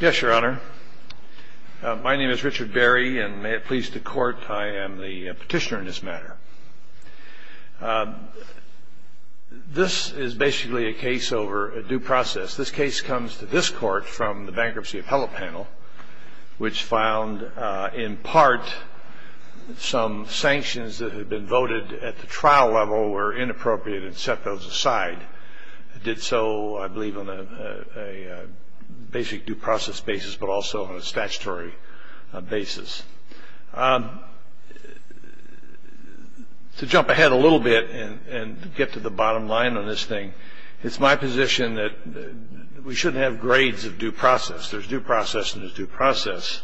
Yes, Your Honor. My name is Richard Berry, and may it please the Court, I am the petitioner in this matter. This is basically a case over a due process. This case comes to this Court from the Bankruptcy Appellate Panel, which found in part some sanctions that had been voted at the trial level were inappropriate and set those aside. It did so, I believe, on a basic due process basis, but also on a statutory basis. To jump ahead a little bit and get to the bottom line on this thing, it's my position that we shouldn't have grades of due process. There's due process and there's due process.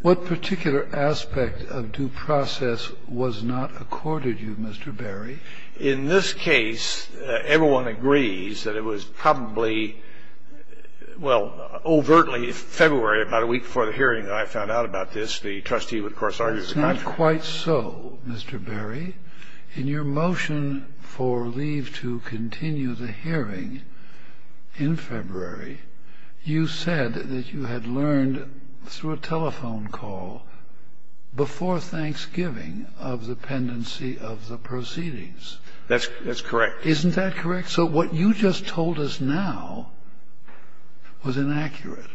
What particular aspect of due process was not accorded you, Mr. Berry? In this case, everyone agrees that it was probably, well, overtly February, about a week before the hearing, I found out about this. The trustee, of course, argues the contrary. It's not quite so, Mr. Berry. In your motion for leave to continue the hearing in February, you said that you had learned through a telephone call before Thanksgiving of the pendency of the proceedings. That's correct. Isn't that correct? So what you just told us now was inaccurate.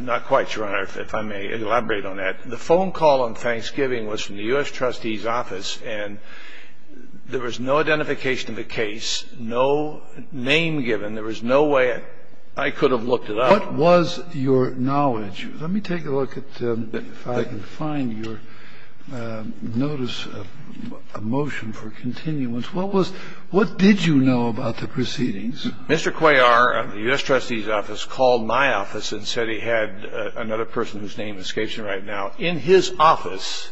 Not quite, Your Honor, if I may elaborate on that. The phone call on Thanksgiving was from the U.S. trustee's office, and there was no identification of the case, no name given. There was no way I could have looked it up. What was your knowledge? Let me take a look if I can find your notice of motion for continuance. What did you know about the proceedings? Mr. Cuellar, the U.S. trustee's office, called my office and said he had another person whose name escapes me right now in his office,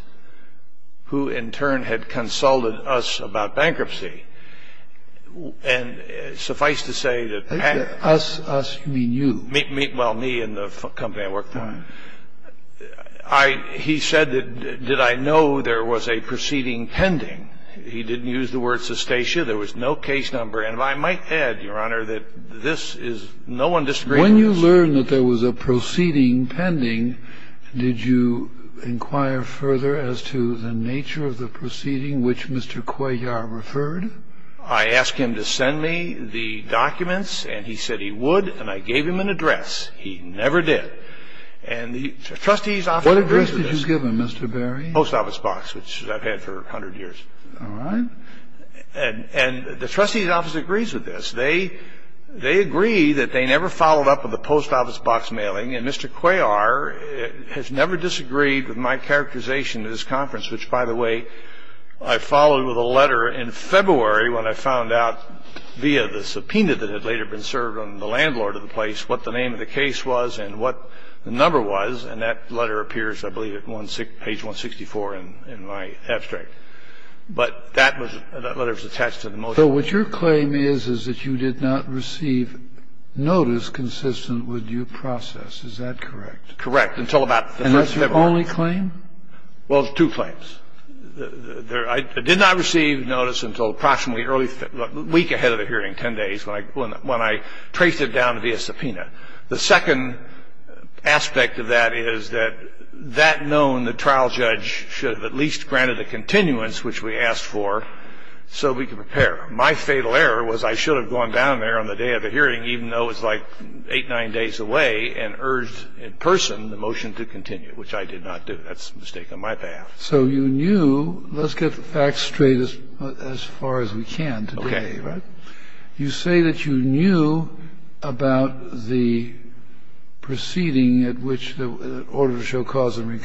who in turn had consulted us about bankruptcy. And suffice to say that Pat... Us, us, you mean you. Well, me and the company I work for. All right. He said that did I know there was a proceeding pending. He didn't use the word cessation. There was no case number. And if I might add, Your Honor, that this is no one disagrees with. When you learned that there was a proceeding pending, did you inquire further as to the nature of the proceeding which Mr. Cuellar referred? I asked him to send me the documents, and he said he would, and I gave him an address. He never did. And the trustee's office agrees with this. What address did you give him, Mr. Berry? Post office box, which I've had for 100 years. All right. And the trustee's office agrees with this. They agree that they never followed up with the post office box mailing, and Mr. Cuellar has never disagreed with my characterization of this conference, which, by the way, I followed with a letter in February when I found out, via the subpoena that had later been served on the landlord of the place, what the name of the case was and what the number was. And that letter appears, I believe, at page 164 in my abstract. But that letter was attached to the motion. So what your claim is is that you did not receive notice consistent with your process. Is that correct? Correct, until about the first February. And that's your only claim? Well, two claims. I did not receive notice until approximately a week ahead of the hearing, 10 days, when I traced it down via subpoena. The second aspect of that is that that known, the trial judge should have at least prepared. My fatal error was I should have gone down there on the day of the hearing, even though it was like eight, nine days away, and urged in person the motion to continue, which I did not do. That's a mistake on my behalf. So you knew, let's get the facts straight as far as we can today, right? Okay. You say that you knew about the proceeding at which the order to show cause of the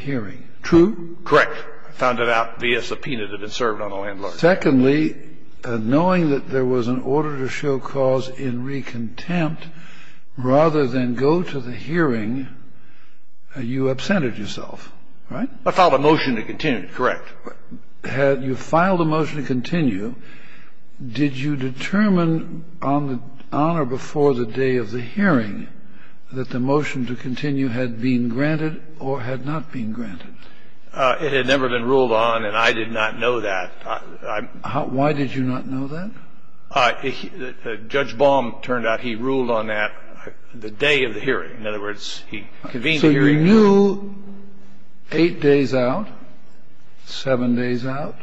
hearing. True? Correct. I found it out via subpoena that it served on a landlord. Secondly, knowing that there was an order to show cause in re-contempt, rather than go to the hearing, you absented yourself, right? I filed a motion to continue, correct. You filed a motion to continue. Did you determine on or before the day of the hearing that the motion to continue had been granted or had not been granted? It had never been ruled on, and I did not know that. Why did you not know that? Judge Baum turned out he ruled on that the day of the hearing. In other words, he convened the hearing. So you knew eight days out, seven days out,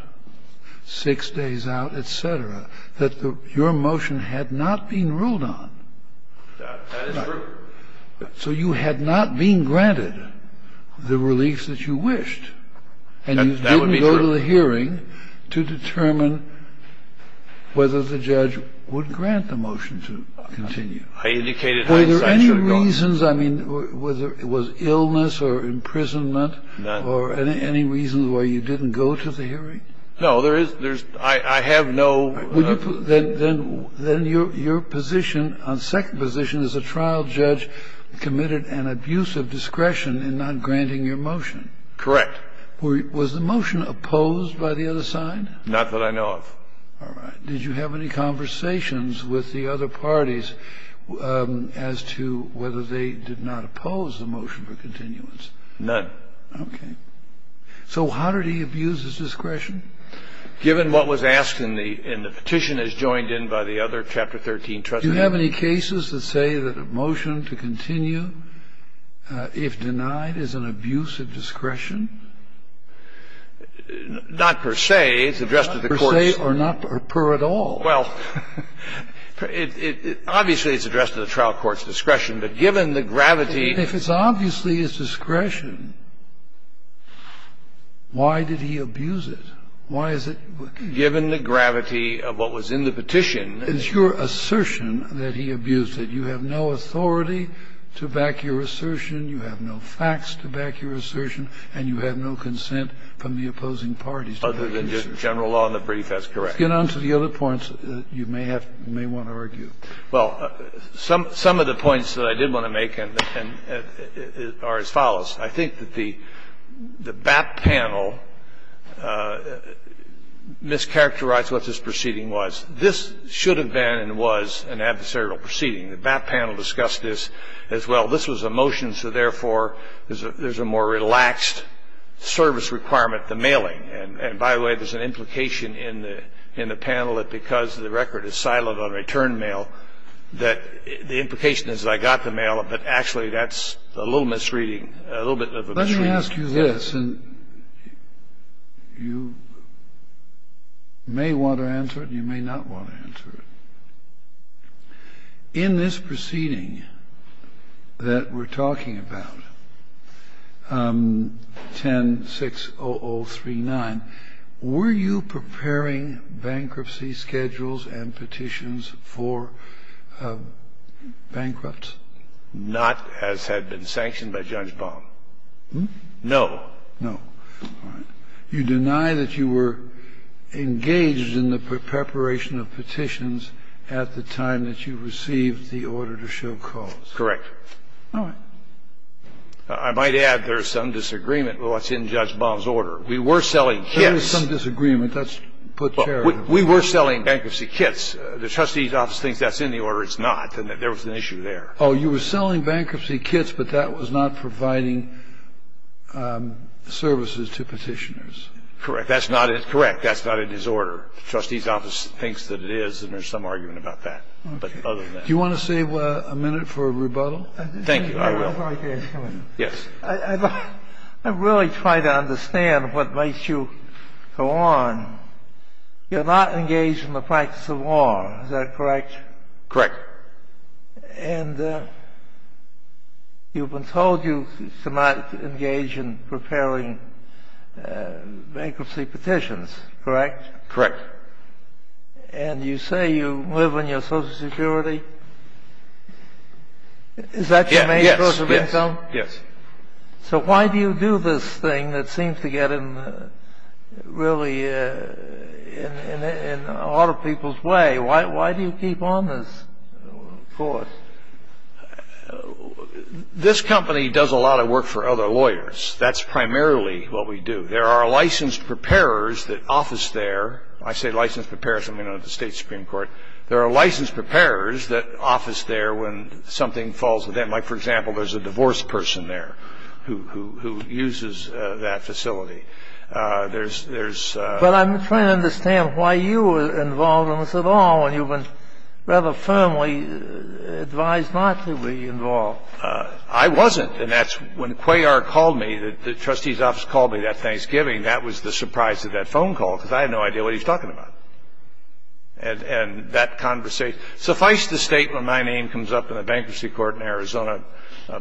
six days out, et cetera, that your motion had not been ruled on. That is true. So you had not been granted the reliefs that you wished. That would be true. And you didn't go to the hearing to determine whether the judge would grant the motion to continue. I indicated I decided I should have gone. Were there any reasons, I mean, whether it was illness or imprisonment or any reasons why you didn't go to the hearing? No, there is no. I have no. All right. Then your position on second position is a trial judge committed an abuse of discretion in not granting your motion. Correct. Was the motion opposed by the other side? Not that I know of. All right. Did you have any conversations with the other parties as to whether they did not oppose the motion for continuance? None. Okay. So how did he abuse his discretion? Given what was asked in the petition as joined in by the other Chapter 13 trustee amendments. Do you have any cases that say that a motion to continue, if denied, is an abuse of discretion? Not per se. It's addressed to the courts. Not per se or not per at all. Well, obviously, it's addressed to the trial court's discretion. But given the gravity. If it's obviously his discretion, why did he abuse it? Why is it? Given the gravity of what was in the petition. It's your assertion that he abused it. You have no authority to back your assertion. You have no facts to back your assertion. And you have no consent from the opposing parties. Other than just general law in the brief, that's correct. Let's get on to the other points that you may have to argue. Well, some of the points that I did want to make are as follows. I think that the BAP panel mischaracterized what this proceeding was. This should have been and was an adversarial proceeding. The BAP panel discussed this as well. This was a motion, so therefore, there's a more relaxed service requirement, the mailing. And by the way, there's an implication in the panel that because the record is silent but actually that's a little misreading, a little bit of a misreading. Let me ask you this. And you may want to answer it and you may not want to answer it. In this proceeding that we're talking about, 10-60039, were you preparing bankruptcy schedules and petitions for bankruptcy? Not as had been sanctioned by Judge Baum. No. No. All right. You deny that you were engaged in the preparation of petitions at the time that you received the order to show cause. Correct. All right. I might add there's some disagreement with what's in Judge Baum's order. We were selling kits. There is some disagreement. That's put charitably. We were selling bankruptcy kits. The trustee's office thinks that's in the order. It's not. There was an issue there. Oh, you were selling bankruptcy kits, but that was not providing services to petitioners. Correct. That's not in his order. The trustee's office thinks that it is, and there's some argument about that. But other than that. Do you want to save a minute for a rebuttal? Thank you. I will. Yes. I really try to understand what makes you go on. You're not engaged in the practice of war. Is that correct? Correct. And you've been told you should not engage in preparing bankruptcy petitions, correct? Correct. And you say you live on your Social Security. Is that your main source of income? Yes. So why do you do this thing that seems to get in really in a lot of people's way? Why do you keep on this course? This company does a lot of work for other lawyers. That's primarily what we do. There are licensed preparers that office there. I say licensed preparers. I'm going to go to the State Supreme Court. There are licensed preparers that office there when something falls. Like, for example, there's a divorce person there who uses that facility. But I'm trying to understand why you were involved in this at all when you were rather firmly advised not to be involved. I wasn't. And that's when Cuellar called me, the trustee's office called me that Thanksgiving. That was the surprise of that phone call because I had no idea what he was talking about. Suffice the statement, my name comes up in the bankruptcy court in Arizona,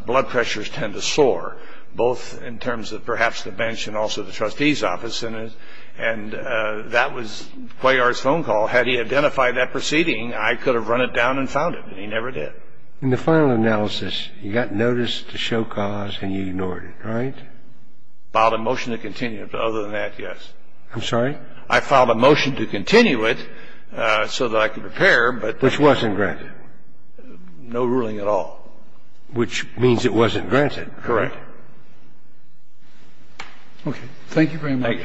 blood pressures tend to soar, both in terms of perhaps the bench and also the trustee's office. And that was Cuellar's phone call. Had he identified that proceeding, I could have run it down and found it, and he never did. In the final analysis, you got notice to show cause and you ignored it, right? Filed a motion to continue it. But other than that, yes. I'm sorry? I filed a motion to continue it so that I could repair, but this wasn't granted. No ruling at all. Which means it wasn't granted, correct? Okay. Thank you very much.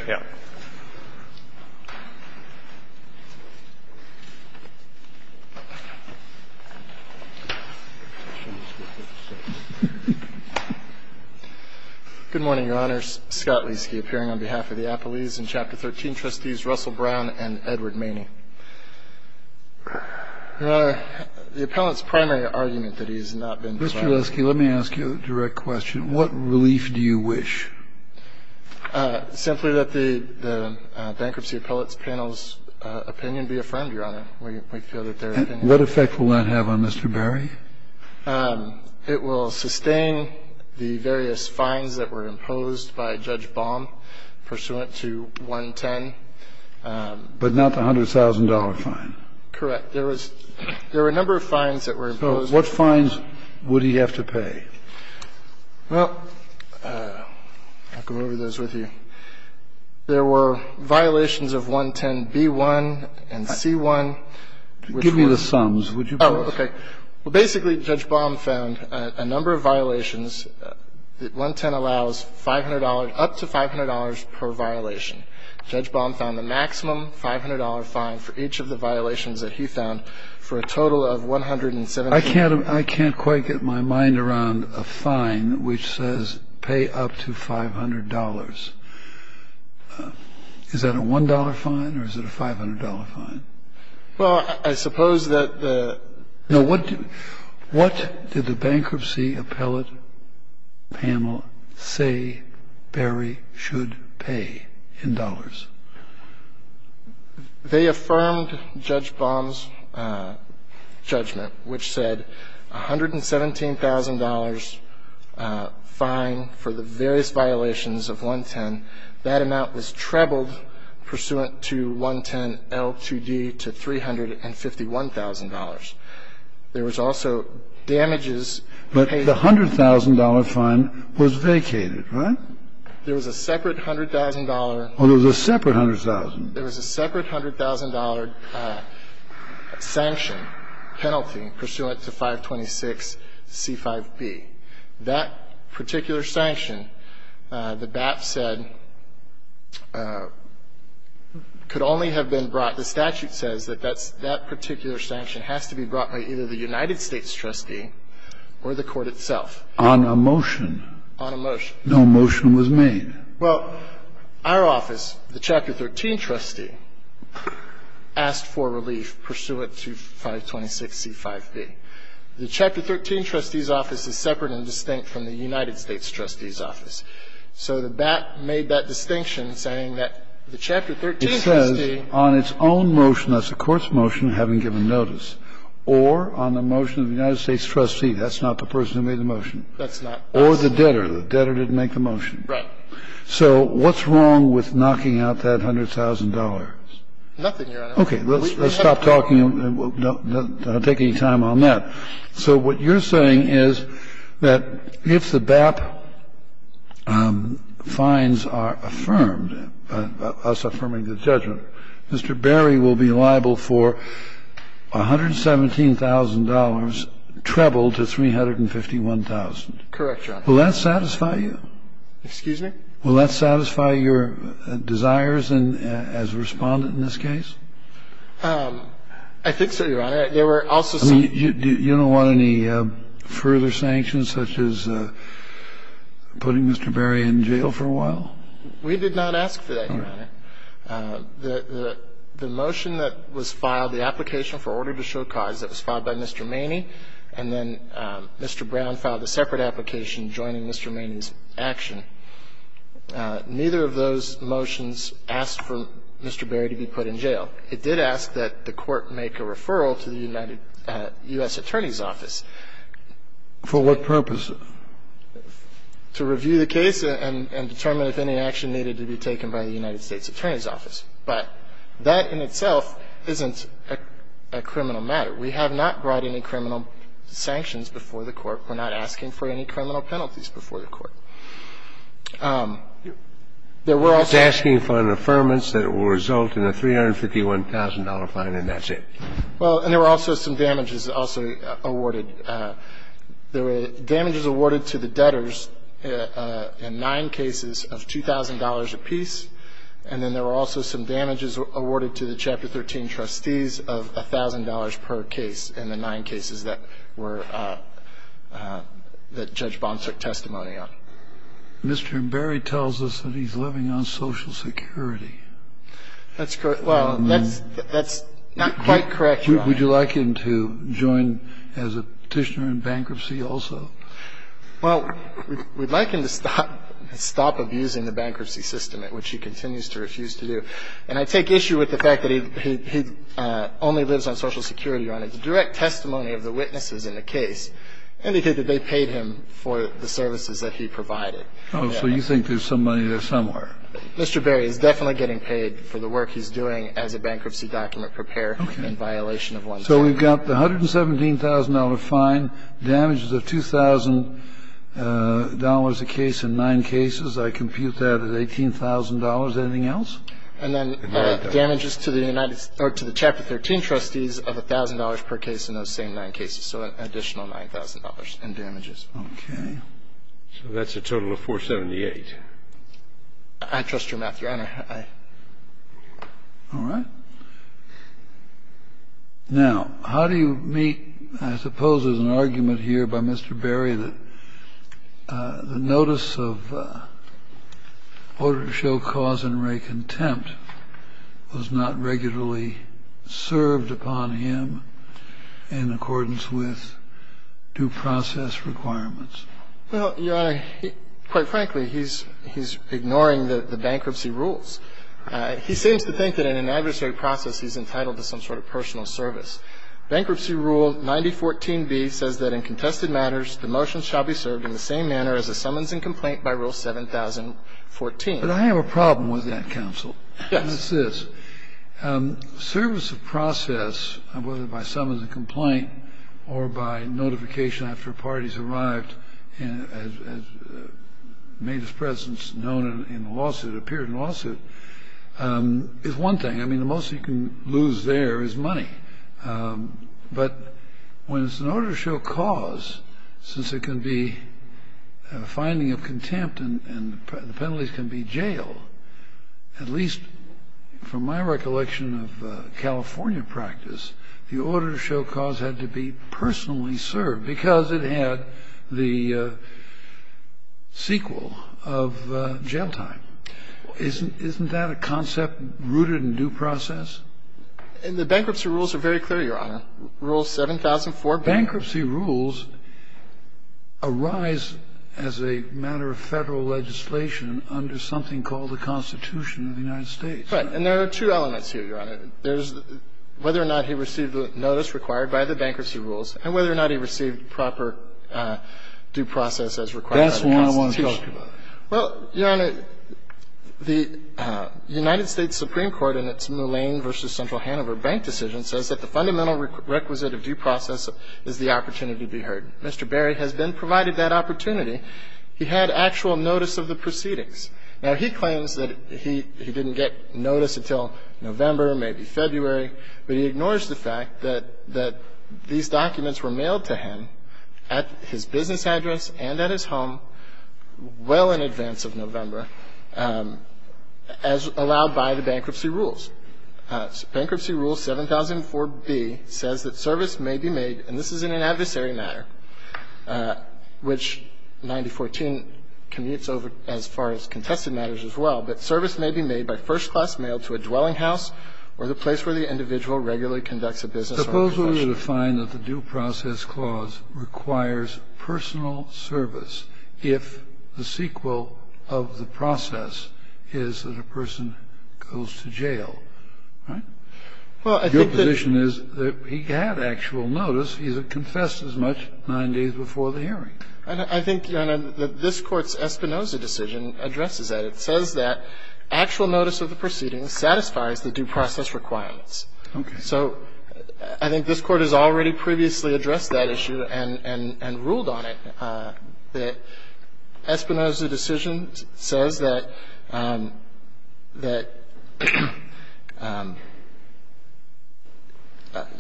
Good morning, Your Honor. Scott Lieske, appearing on behalf of the Appellees and Chapter 13 Trustees, Russell Brown and Edward Maney. Your Honor, the appellant's primary argument that he has not been delivered. Mr. Lieske, let me ask you a direct question. What relief do you wish? Simply that the bankruptcy appellate's panel's opinion be affirmed, Your Honor. We feel that their opinion. What effect will that have on Mr. Barry? It will sustain the various fines that were imposed by Judge Baum pursuant to 110. But not the $100,000 fine. Correct. There were a number of fines that were imposed. So what fines would he have to pay? Well, I'll go over those with you. There were violations of 110b1 and c1. Give me the sums. Oh, okay. Well, basically, Judge Baum found a number of violations. 110 allows up to $500 per violation. Judge Baum found the maximum $500 fine for each of the violations that he found for a total of $117. I can't quite get my mind around a fine which says pay up to $500. Is that a $1 fine or is it a $500 fine? Well, I suppose that the ---- No. What did the bankruptcy appellate panel say Barry should pay in dollars? They affirmed Judge Baum's judgment, which said $117,000 fine for the various violations of 110. That amount was trebled pursuant to 110L2D to $351,000. There was also damages paid ---- But the $100,000 fine was vacated, right? There was a separate $100,000 ---- Oh, there was a separate $100,000. There was a separate $100,000 sanction penalty pursuant to 526C5B. That particular sanction, the BAP said, could only have been brought ---- The statute says that that particular sanction has to be brought by either the United States trustee or the court itself. On a motion. On a motion. No motion was made. Well, our office, the Chapter 13 trustee, asked for relief pursuant to 526C5B. The Chapter 13 trustee's office is separate and distinct from the United States trustee's office. So the BAP made that distinction, saying that the Chapter 13 trustee ---- It says on its own motion, that's the court's motion, having given notice, or on the motion of the United States trustee, that's not the person who made the motion. That's not us. Or the debtor. The debtor didn't make the motion. Right. So what's wrong with knocking out that $100,000? Nothing, Your Honor. Okay. Let's stop talking and take any time on that. So what you're saying is that if the BAP fines are affirmed, us affirming the judgment, Mr. Berry will be liable for $117,000 trebled to $351,000. Will that satisfy you? Excuse me? Will that satisfy your desires as a Respondent in this case? I think so, Your Honor. There were also some ---- You don't want any further sanctions, such as putting Mr. Berry in jail for a while? We did not ask for that, Your Honor. The motion that was filed, the application for order to show cause, that was filed by Mr. Maney, and then Mr. Brown filed a separate application joining Mr. Maney's action. Neither of those motions asked for Mr. Berry to be put in jail. It did ask that the Court make a referral to the United States Attorney's Office. For what purpose? To review the case and determine if any action needed to be taken by the United States Attorney's Office. But that in itself isn't a criminal matter. We have not brought any criminal sanctions before the Court. We're not asking for any criminal penalties before the Court. There were also ---- It's asking for an affirmance that it will result in a $351,000 fine, and that's it. Well, and there were also some damages also awarded. There were damages awarded to the debtors in nine cases of $2,000 apiece, and then there were also some damages awarded to the Chapter 13 trustees of $1,000 per case in the nine cases that were ---- that Judge Bond took testimony on. Mr. Berry tells us that he's living on Social Security. That's correct. Well, that's not quite correct, Your Honor. Would you like him to join as a petitioner in bankruptcy also? Well, we'd like him to stop abusing the bankruptcy system, at which he continues to refuse to do. And I take issue with the fact that he only lives on Social Security, Your Honor. The direct testimony of the witnesses in the case indicated that they paid him for the services that he provided. Oh, so you think there's some money there somewhere. Mr. Berry is definitely getting paid for the work he's doing as a bankruptcy document preparer in violation of 110. So we've got the $117,000 fine, damages of $2,000 apiece in nine cases. I compute that at $18,000. Anything else? And then damages to the United ---- or to the Chapter 13 trustees of $1,000 per case in those same nine cases. So an additional $9,000 in damages. Okay. So that's a total of 478. I trust your math, Your Honor. I ---- All right. Now, how do you meet ---- I suppose there's an argument here by Mr. Berry that the notice of order to show cause and wreak contempt was not regularly served upon him in accordance with due process requirements. Well, Your Honor, quite frankly, he's ignoring the bankruptcy rules. He seems to think that in an adversary process he's entitled to some sort of personal service. Bankruptcy Rule 9014b says that in contested matters, the motion shall be served in the same manner as a summons and complaint by Rule 7014. But I have a problem with that, counsel. Yes. And it's this. Service of process, whether by summons and complaint or by notification after a party has arrived and made his presence known in a lawsuit, appeared in a lawsuit, is one thing. I mean, the most you can lose there is money. But when it's an order to show cause, since it can be a finding of contempt and the penalties can be jail, at least from my recollection of California practice, the order to show cause had to be personally served because it had the sequel of jail time. Isn't that a concept rooted in due process? And the bankruptcy rules are very clear, Your Honor. Rule 7004b. Bankruptcy rules arise as a matter of Federal legislation under something called the Constitution of the United States. Right. And there are two elements here, Your Honor. There's whether or not he received a notice required by the bankruptcy rules and whether or not he received proper due process as required by the Constitution. That's what I want to talk about. Well, Your Honor, the United States Supreme Court in its Mullane v. Central Hanover Bank decision says that the fundamental requisite of due process is the opportunity to be heard. Mr. Berry has been provided that opportunity. He had actual notice of the proceedings. Now, he claims that he didn't get notice until November, maybe February, but he ignores the fact that these documents were mailed to him at his business address and at his home well in advance of November as allowed by the bankruptcy rules. Bankruptcy rule 7004b says that service may be made, and this is in an adversary matter, which 9014 commutes over as far as contested matters as well, but service may be made by first-class mail to a dwelling house or the place where the individual regularly conducts a business or a profession. Now, I think it's fair to define that the due process clause requires personal service if the sequel of the process is that a person goes to jail, right? Your position is that he had actual notice. He confessed as much nine days before the hearing. I think, Your Honor, that this Court's Espinoza decision addresses that. It says that actual notice of the proceedings satisfies the due process requirements. Okay. So I think this Court has already previously addressed that issue and ruled on it, that Espinoza's decision says that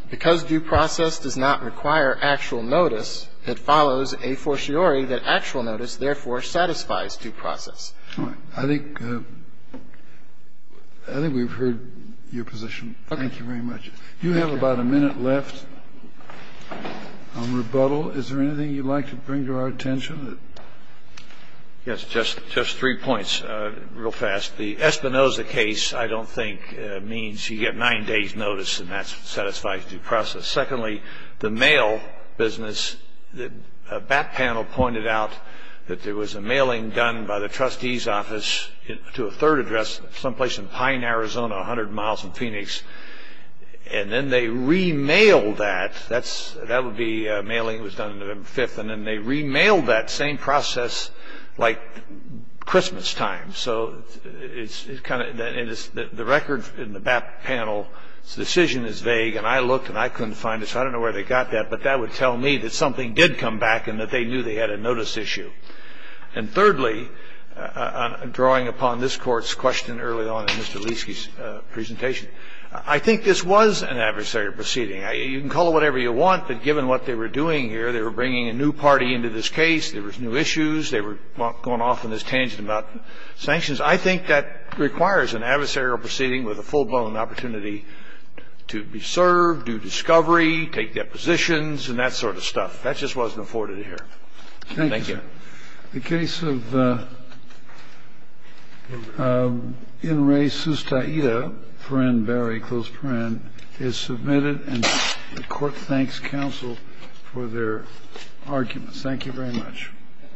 because due process does not require actual notice, it follows a fortiori that actual notice therefore satisfies due process. All right. I think we've heard your position. Thank you very much. You have about a minute left on rebuttal. Is there anything you'd like to bring to our attention? Yes. Just three points real fast. The Espinoza case, I don't think, means you get nine days' notice and that satisfies due process. Secondly, the mail business, the back panel pointed out that there was a mailing done by the trustee's office to a third address someplace in Pine, Arizona, 100 miles from Phoenix, and then they remailed that. That would be a mailing that was done on November 5th, and then they remailed that same process like Christmastime. So it's kind of the record in the back panel, the decision is vague, and I looked and I couldn't find it, so I don't know where they got that, but that would tell me that something did come back and that they knew they had a notice issue. And thirdly, drawing upon this Court's question early on in Mr. Leiske's presentation, I think this was an adversarial proceeding. You can call it whatever you want, but given what they were doing here, they were bringing a new party into this case, there was new issues, they were going off on this tangent about sanctions. I think that requires an adversarial proceeding with a full-blown opportunity to be served, do discovery, take depositions and that sort of stuff. That just wasn't afforded here. Thank you. The case of Inres Sustaida, Perrin Barry, close Perrin, is submitted and the Court thanks counsel for their arguments. Thank you very much.